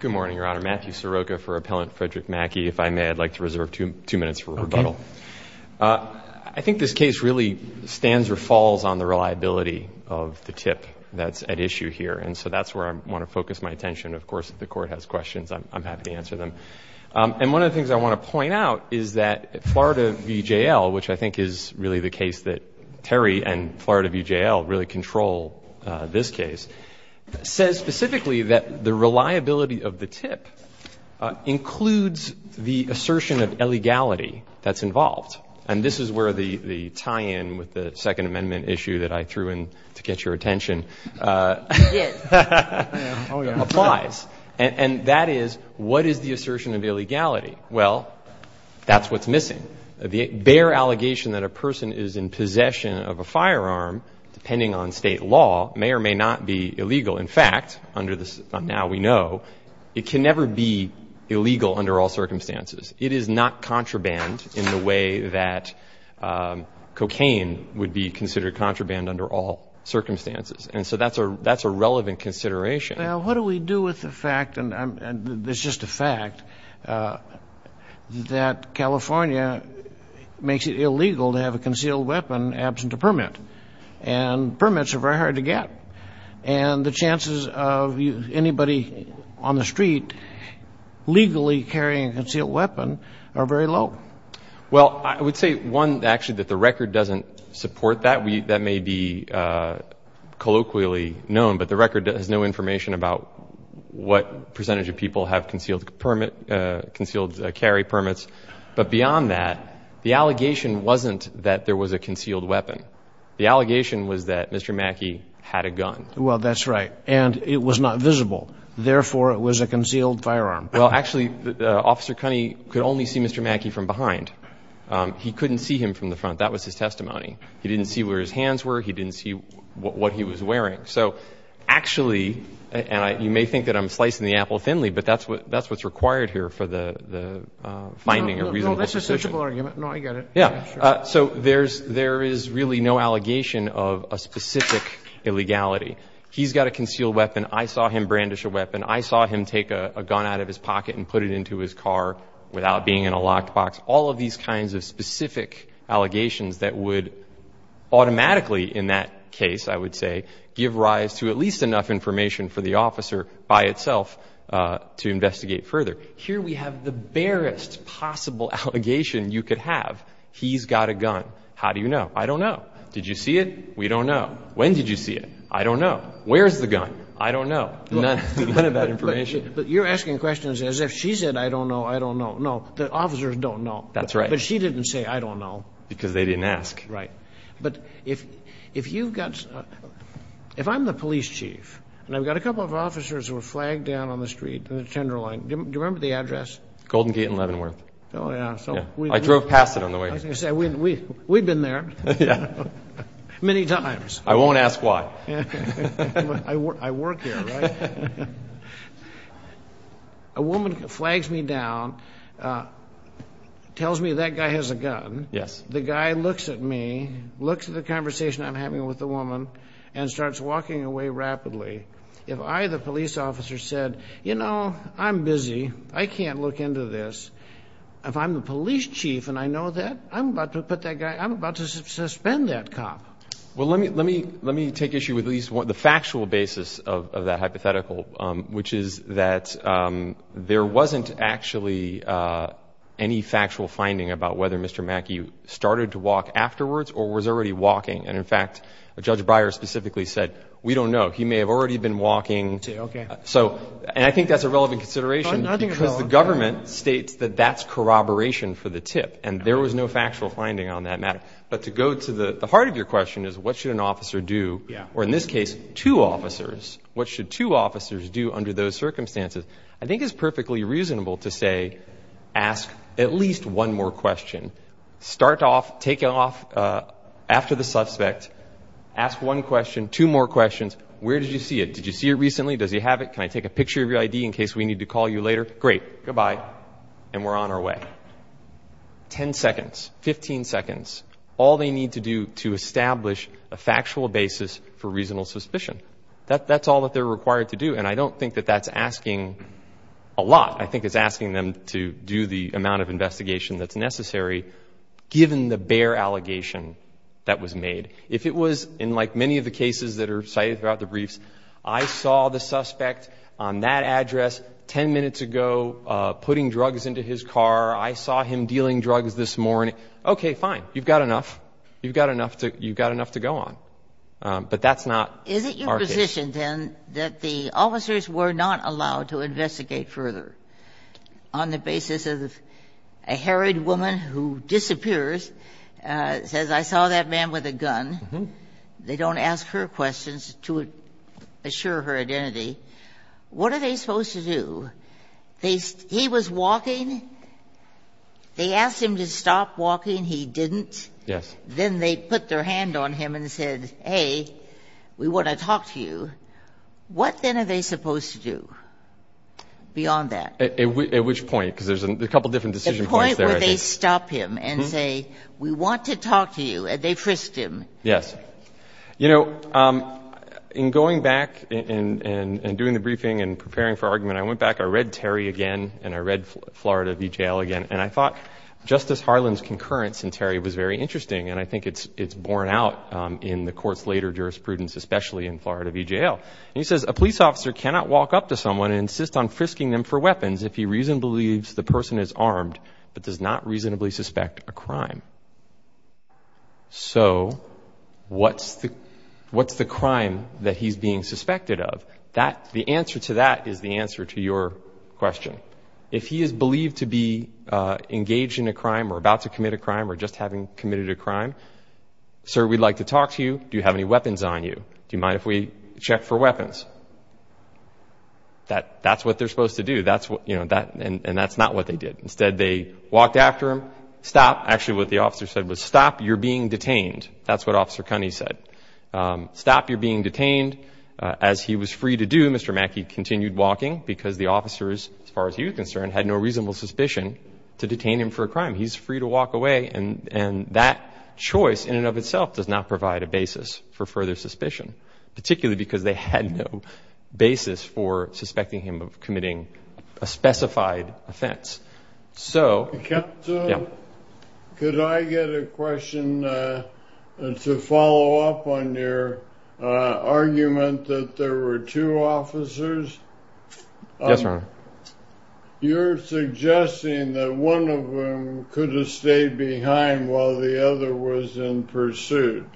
Good morning, Your Honor. Matthew Sirocco for Appellant Fredrick Mackie. If I may, I'd like to reserve two minutes for rebuttal. I think this case really stands or falls on the reliability of the tip that's at issue here, and so that's where I want to focus my attention. Of course, if the court has questions, I'm happy to answer them. And one of the things I want to point out is that Florida v. JL, which I think is really the case that Terry and Florida v. JL, this case, says specifically that the reliability of the tip includes the assertion of illegality that's involved. And this is where the tie-in with the Second Amendment issue that I threw in to get your attention applies. And that is, what is the assertion of illegality? Well, that's what's missing. The bare allegation that a person is in possession of a firearm, depending on state law, may or may not be illegal. In fact, under this, now we know, it can never be illegal under all circumstances. It is not contraband in the way that cocaine would be considered contraband under all circumstances. And so that's a relevant consideration. Well, what do we do with the fact, and there's just a fact, that California makes it illegal to have a concealed weapon absent a permit. And permits are very hard to get. And the chances of anybody on the street legally carrying a concealed weapon are very low. Well, I would say, one, actually, that the record doesn't support that. That may be colloquially known, but the record has no information about what percentage of people have concealed permit, concealed carry permits. But beyond that, the allegation wasn't that there was a concealed weapon. The allegation was that Mr. Mackey had a gun. Well, that's right. And it was not visible. Therefore, it was a concealed firearm. Well, actually, Officer Cunney could only see Mr. Mackey from behind. He couldn't see him from the front. That was his testimony. He didn't see where his hands were. He didn't see what he was wearing. So actually, and you may think that I'm slicing the apple thinly, but that's what's required here for the finding a reasonable suspicion. No, that's a sensible argument. No, I get it. Yeah. So there is really no allegation of a specific illegality. He's got a concealed weapon. I saw him brandish a weapon. I saw him take a gun out of his pocket and put it into his car without being in a locked box. All of these kinds of specific allegations that would automatically, in that case, I would say, give rise to at least enough information for the officer by itself to investigate further. Here we have the barest possible allegation you could have. He's got a gun. How do you know? I don't know. Did you see it? We don't know. When did you see it? I don't know. Where's the gun? I don't know. None of that information. But you're asking questions as if she said, I don't know. I don't know. No, the officers don't know. That's right. But she didn't say, I don't know. Because they didn't ask. Right. But if I'm the police chief and I've got a couple of officers who are flagged down on the street in the Tenderloin, do you remember the address? Golden Gate and Leavenworth. I drove past it on the way here. I was going to say, we've been there many times. I won't ask why. I work here, right? A woman flags me down, tells me that guy has a gun. The guy looks at me, looks at the conversation I'm having with the woman, and starts walking away rapidly. If I, the police officer, said, you know, I'm busy. I can't look into this. If I'm the police chief and I know that, I'm about to suspend that cop. Let me take issue with the factual basis of that hypothetical, which is that there wasn't actually any factual finding about whether Mr. Mackey started to walk afterwards or was already walking. And in fact, Judge Breyer specifically said, we don't know. He may have already been walking. So, and I think that's a relevant consideration because the government states that that's corroboration for the tip. And there was no factual finding on that matter. But to go to the heart of your question is, what should an officer do? Or in this case, two officers. What should two officers do under those circumstances? I think it's perfectly reasonable to say, ask at least one more question. Start off, take off after the suspect. Ask one question, two more questions. Where did you see it? Did you see it recently? Does he have it? Can I take a picture of your ID in case we need to call you later? Great. Goodbye. And we're on our way. 10 seconds, 15 seconds. All they need to do to establish a factual basis for reasonable suspicion. That's all that they're required to do. And I don't think that that's asking a lot. I think it's asking them to do the amount of investigation that's necessary, given the bare allegation that was made. If it was in, like, many of the cases that are cited throughout the briefs, I saw the suspect on that address 10 minutes ago putting drugs into his car. I saw him dealing drugs this morning. Okay, fine. You've got enough. You've got enough to go on. But that's not our case. And then that the officers were not allowed to investigate further on the basis of a harried woman who disappears, says, I saw that man with a gun. They don't ask her questions to assure her identity. What are they supposed to do? He was walking. They asked him to stop walking. He didn't. Yes. Then they put their hand on him and said, hey, we want to talk to you. What, then, are they supposed to do beyond that? At which point? Because there's a couple of different decision points there. The point where they stop him and say, we want to talk to you, and they frisked him. Yes. You know, in going back and doing the briefing and preparing for argument, I went back, I read Terry again, and I read Florida v. Jail again, and I thought Justice Harlan's concurrence in Terry was very interesting. I think it's borne out in the court's later jurisprudence, especially in Florida v. Jail. He says, a police officer cannot walk up to someone and insist on frisking them for weapons if he reasonably believes the person is armed but does not reasonably suspect a crime. So what's the crime that he's being suspected of? The answer to that is the answer to your question. If he is believed to be engaged in a crime or about to commit a crime or just having committed a crime, sir, we'd like to talk to you. Do you have any weapons on you? Do you mind if we check for weapons? That's what they're supposed to do, and that's not what they did. Instead, they walked after him. Stop. Actually, what the officer said was, stop, you're being detained. That's what Officer Cunney said. Stop, you're being detained. As he was free to do, Mr. Mackey continued walking because the officers, as far as he was concerned, had no reasonable suspicion to detain him for a crime. He's free to walk away, and that choice in and of itself does not provide a basis for further suspicion, particularly because they had no basis for suspecting him of committing a specified offense. Could I get a question to follow up on your argument that there were two officers? Yes, Your Honor. You're suggesting that one of them could have stayed behind while the other was in pursuit.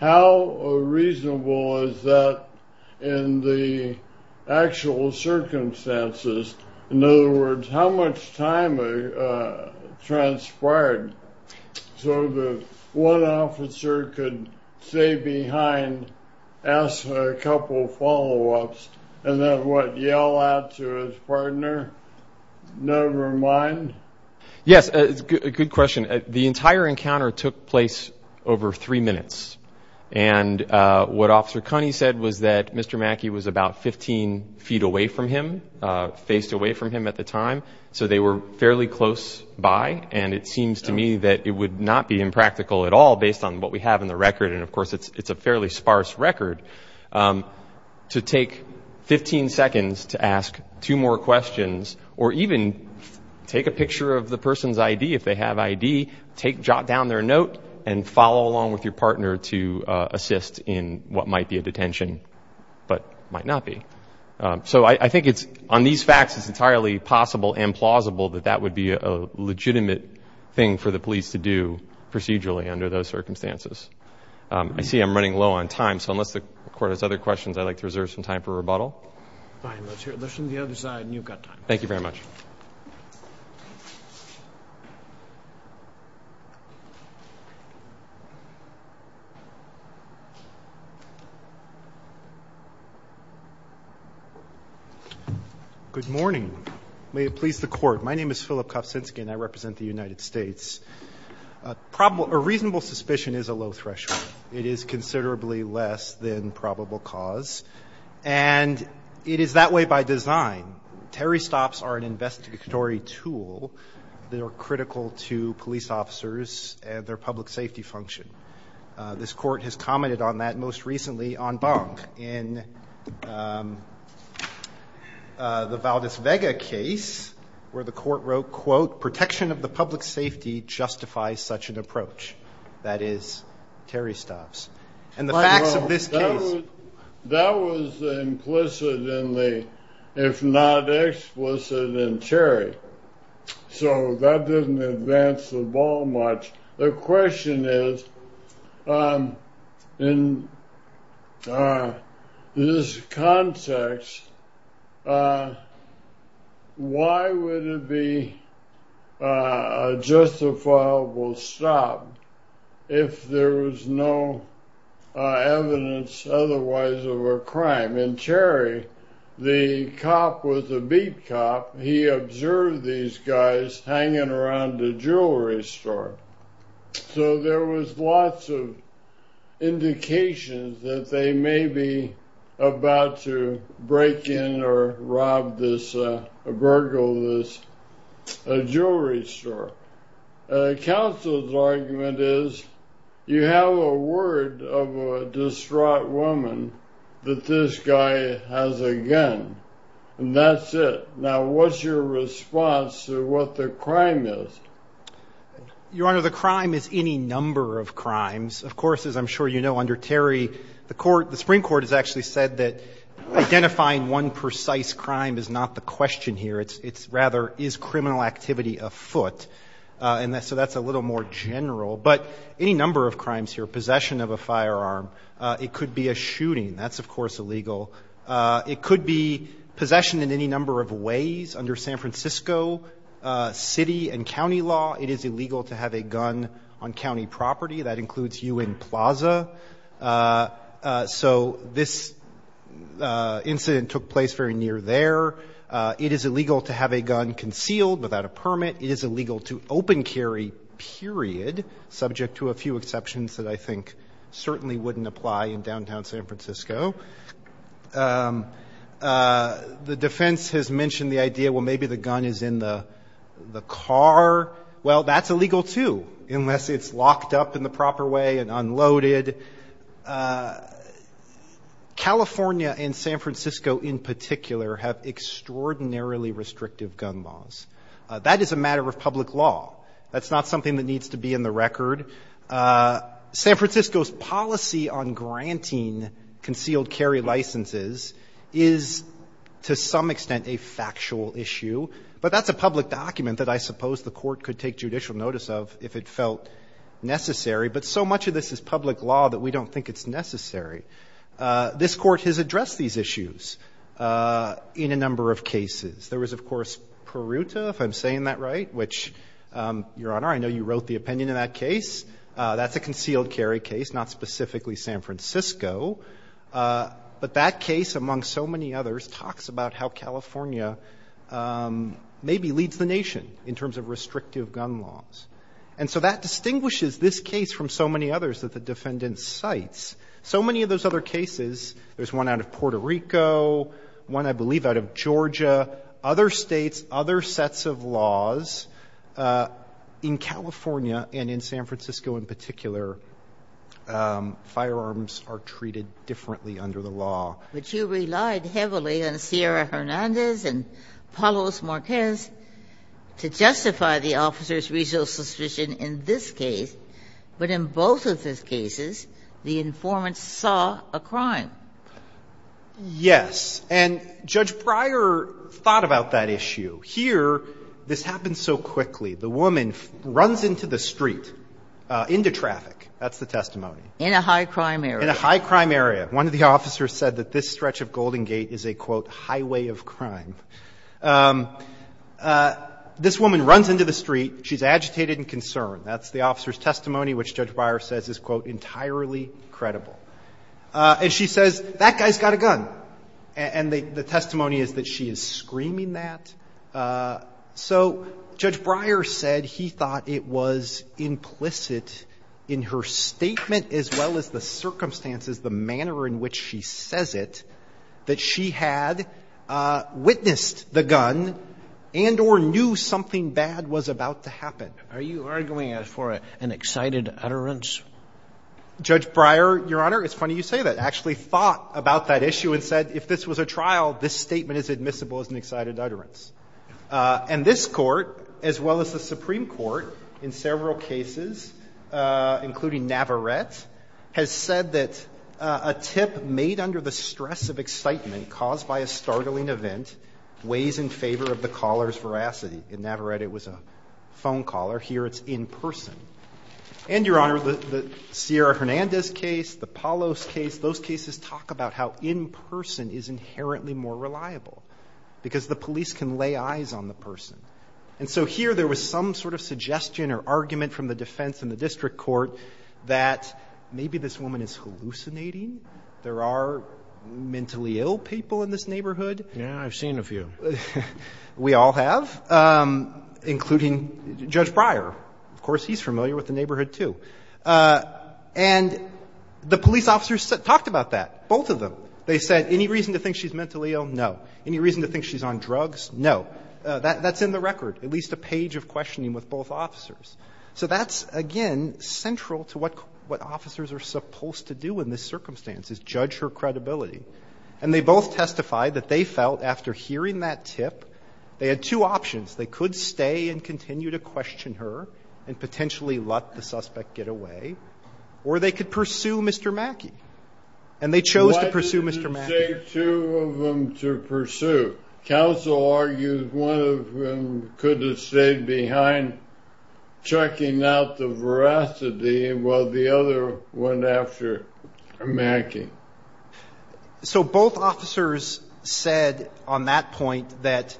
How reasonable is that in the actual circumstances? In other words, how much time transpired so that one officer could stay behind, ask a partner, never mind? Yes, good question. The entire encounter took place over three minutes, and what Officer Cunney said was that Mr. Mackey was about 15 feet away from him, faced away from him at the time, so they were fairly close by, and it seems to me that it would not be impractical at all based on what we have in the record, and of course it's a fairly sparse record, to take 15 seconds to ask two more questions or even take a picture of the person's ID if they have ID, take down their note, and follow along with your partner to assist in what might be a detention but might not be. So I think it's, on these facts, it's entirely possible and plausible that that would be a legitimate thing for the police to do procedurally under those circumstances. I see I'm running low on time, so unless the Court has other questions, I'd like to reserve some time for rebuttal. Fine, let's hear it. Let's do the other side, and you've got time. Thank you very much. Good morning. May it please the Court. My name is Philip Kofcinski, and I represent the United States. A reasonable suspicion is a low threshold. It is considerably less than probable cause, and it is that way by design. Terry stops are an investigatory tool that are critical to police officers and their public safety function. This Court has commented on that most recently on Bonk in the Valdez-Vega case, where the Court wrote, quote, protection of the public safety justifies such an approach. That is, Terry stops. That was implicit, if not explicit, in Terry, so that didn't advance the ball much. The question is, in this context, why would it be a justifiable stop? If there was no evidence otherwise of a crime. In Terry, the cop was a beat cop. He observed these guys hanging around a jewelry store, so there was lots of indications that they may be about to break in or rob this, burgle this jewelry store. Counsel's argument is, you have a word of a distraught woman that this guy has a gun, and that's it. Now, what's your response to what the crime is? Your Honor, the crime is any number of crimes. Of course, as I'm sure you know, under Terry, the Supreme Court has actually said that identifying one precise crime is not the question here. It's rather, is criminal activity afoot? So that's a little more general. But any number of crimes here, possession of a firearm, it could be a shooting. That's, of course, illegal. It could be possession in any number of ways under San Francisco city and county law. It is illegal to have a gun on county property. That includes you in Plaza. So this incident took place very near there. It is illegal to have a gun concealed without a permit. It is illegal to open carry, period. Subject to a few exceptions that I think certainly wouldn't apply in downtown San Francisco. The defense has mentioned the idea, well, maybe the gun is in the car. Well, that's illegal too, unless it's locked up in the proper way and unloaded. But California and San Francisco in particular have extraordinarily restrictive gun laws. That is a matter of public law. That's not something that needs to be in the record. San Francisco's policy on granting concealed carry licenses is to some extent a factual issue. But that's a public document that I suppose the Court could take judicial notice of if it felt necessary. But so much of this is public law that we don't think it's necessary. This Court has addressed these issues in a number of cases. There was, of course, Peruta, if I'm saying that right, which, Your Honor, I know you wrote the opinion in that case. That's a concealed carry case, not specifically San Francisco. But that case, among so many others, talks about how California maybe leads the nation in terms of restrictive gun laws. And so that distinguishes this case from so many others that the Defendant cites. So many of those other cases, there's one out of Puerto Rico, one, I believe, out of Georgia, other States, other sets of laws. In California and in San Francisco in particular, firearms are treated differently under the law. Ginsburg-McGillivray, which you relied heavily on Sierra Hernandez and Palos Marquez to justify the officer's reasonable suspicion in this case, but in both of those cases, the informant saw a crime. Yes. And Judge Breyer thought about that issue. Here, this happens so quickly. The woman runs into the street, into traffic. That's the testimony. In a high-crime area. In a high-crime area. One of the officers said that this stretch of Golden Gate is a, quote, highway of crime. This woman runs into the street. She's agitated and concerned. That's the officer's testimony, which Judge Breyer says is, quote, entirely credible. And she says, that guy's got a gun. And the testimony is that she is screaming that. So Judge Breyer said he thought it was implicit in her statement as well as the circumstances, the manner in which she says it, that she had witnessed the gun and or knew something bad was about to happen. Are you arguing for an excited utterance? Judge Breyer, Your Honor, it's funny you say that. Actually thought about that issue and said, if this was a trial, this statement is admissible as an excited utterance. And this Court, as well as the Supreme Court, in several cases, including Navarette, has said that a tip made under the stress of excitement caused by a startling event weighs in favor of the caller's veracity. In Navarette, it was a phone caller. Here it's in person. And, Your Honor, the Sierra Hernandez case, the Palos case, those cases talk about how in person is inherently more reliable, because the police can lay eyes on the person. And so here there was some sort of suggestion or argument from the defense and the maybe this woman is hallucinating. There are mentally ill people in this neighborhood. Yeah, I've seen a few. We all have, including Judge Breyer. Of course, he's familiar with the neighborhood, too. And the police officers talked about that, both of them. They said, any reason to think she's mentally ill? No. Any reason to think she's on drugs? No. That's in the record, at least a page of questioning with both officers. So that's, again, central to what what officers are supposed to do in this circumstance is judge her credibility. And they both testified that they felt after hearing that tip, they had two options. They could stay and continue to question her and potentially let the suspect get away. Or they could pursue Mr. Mackey. And they chose to pursue Mr. Mackey. Why did you say two of them to pursue? Counsel argues one of them could have stayed behind checking out the veracity while the other went after Mackey. So both officers said on that point that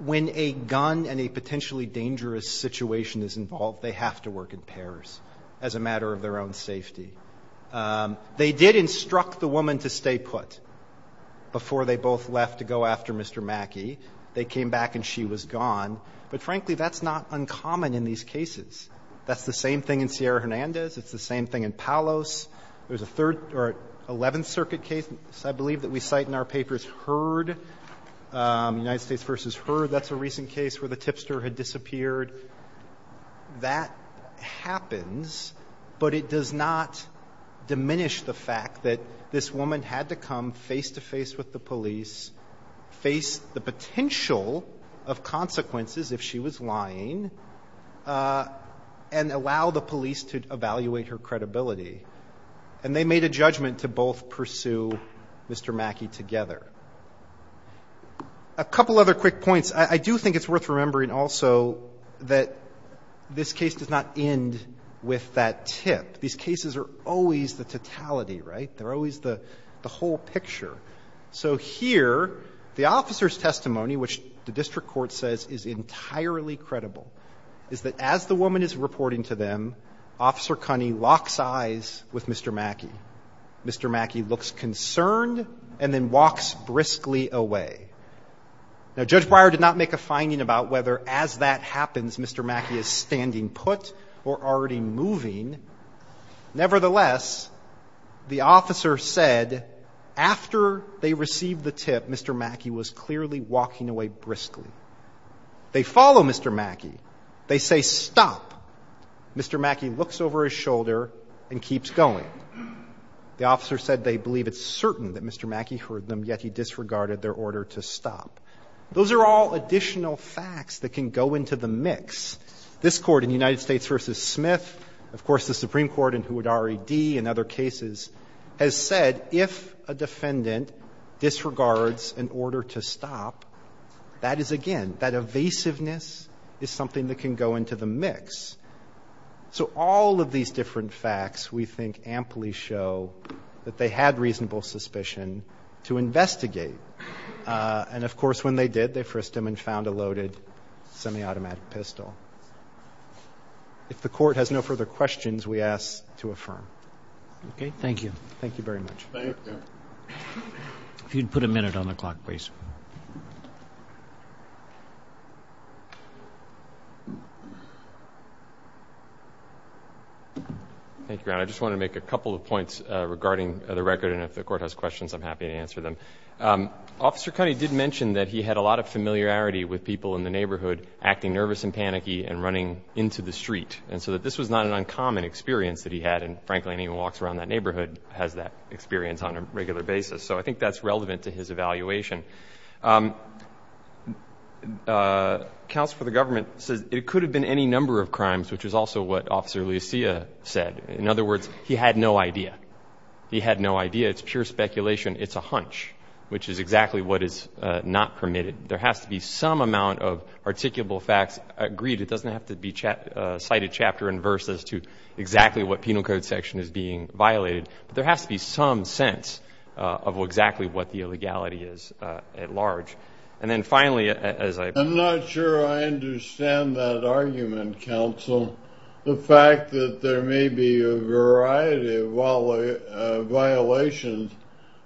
when a gun and a potentially dangerous situation is involved, they have to work in pairs as a matter of their own safety. Um, they did instruct the woman to stay put before they both left to go after Mr. Mackey. They came back and she was gone. But frankly, that's not uncommon in these cases. That's the same thing in Sierra Hernandez. It's the same thing in Palos. There's a third or 11th Circuit case. I believe that we cite in our papers heard, um, United States versus her. That's a recent case where the tipster had disappeared. That happens, but it does not diminish the fact that this woman had to come face-to-face with the police, face the potential of consequences if she was lying, uh, and allow the police to evaluate her credibility. And they made a judgment to both pursue Mr. Mackey together. A couple other quick points. I do think it's worth remembering also that this case does not end with that tip. These cases are always the totality, right? They're always the whole picture. So here, the officer's testimony, which the district court says is entirely credible, is that as the woman is reporting to them, Officer Cunney locks eyes with Mr. Mackey. Mr. Mackey looks concerned and then walks briskly away. Now, Judge Breyer did not make a finding about whether as that happens, Mr. Mackey is standing put or already moving. Nevertheless, the officer said after they received the tip, Mr. Mackey was clearly walking away briskly. They follow Mr. Mackey. They say, stop. Mr. Mackey looks over his shoulder and keeps going. The officer said they believe it's certain that Mr. Mackey heard them, yet he disregarded their order to stop. Those are all additional facts that can go into the mix. This Court in United States v. Smith, of course, the Supreme Court and Houdari D. in other cases, has said if a defendant disregards an order to stop, that is, again, that evasiveness is something that can go into the mix. So all of these different facts, we think, amply show that they had reasonable suspicion to investigate. And, of course, when they did, they frisked him and found a loaded semi-automatic pistol. If the Court has no further questions, we ask to affirm. Okay. Thank you. Thank you very much. Thank you. Thank you, Your Honor. I just want to make a couple of points regarding the record, and if the Court has questions, I'm happy to answer them. Officer Cunney did mention that he had a lot of familiarity with people in the neighborhood acting nervous and panicky and running into the street, and so that this was not an uncommon experience that he had. And, frankly, anyone who walks around that neighborhood has that experience on a regular basis. So I think that's relevant to his evaluation. Counsel for the government says it could have been any number of crimes, which is also what Officer Lucia said. In other words, he had no idea. He had no idea. It's pure speculation. It's a hunch, which is exactly what is not permitted. There has to be some amount of articulable facts agreed. It doesn't have to be cited chapter and verse as to exactly what penal code section is being violated, but there has to be some sense of exactly what the illegality is at large. And then, finally, as I... Counsel, the fact that there may be a variety of violations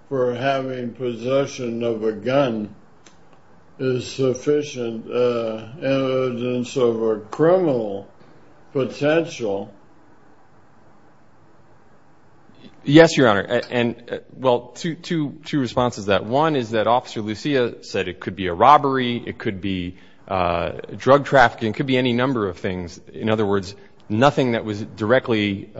for having possession of a gun is sufficient evidence of a criminal potential. Yes, Your Honor. And, well, two responses to that. One is that Officer Lucia said it could be a robbery, it could be drug trafficking, it could be any number of crimes, but in other words, nothing that was directly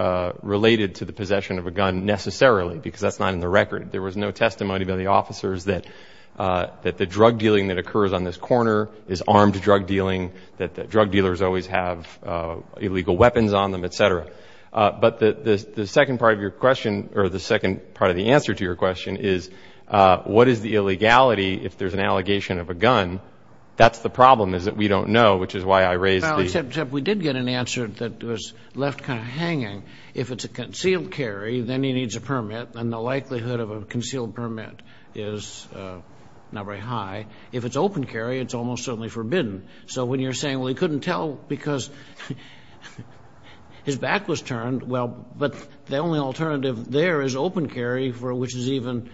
related to the possession of a gun necessarily, because that's not in the record. There was no testimony by the officers that the drug dealing that occurs on this corner is armed drug dealing, that drug dealers always have illegal weapons on them, et cetera. But the second part of your question, or the second part of the answer to your question is, what is the illegality if there's an allegation of a gun? That's the problem, is that we don't know, which is why I raised the... Well, except we did get an answer that was left kind of hanging. If it's a concealed carry, then he needs a permit, and the likelihood of a concealed permit is not very high. If it's open carry, it's almost certainly forbidden. So when you're saying, well, he couldn't tell because his back was turned, well, but the only alternative there is open carry, for which is even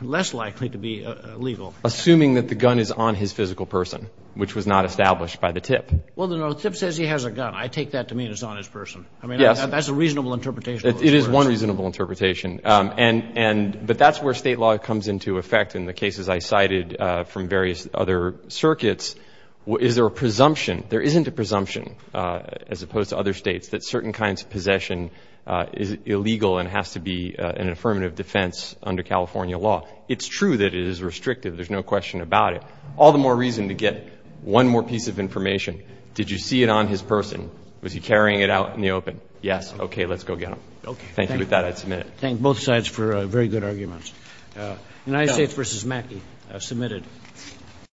less likely to be illegal. Assuming that the gun is on his physical person, which was not established by the TIP. Well, the TIP says he has a gun. I take that to mean it's on his person. I mean, that's a reasonable interpretation. It is one reasonable interpretation. But that's where state law comes into effect. In the cases I cited from various other circuits, is there a presumption? There isn't a presumption, as opposed to other states, that certain kinds of possession is illegal and has to be an affirmative defense under California law. It's true that it is restrictive. There's no question about it. All the more reason to get one more piece of information. Did you see it on his person? Was he carrying it out in the open? Yes. Okay. Let's go get him. Thank you. With that, I submit. Thank both sides for very good arguments. United States v. Mackie. Submitted.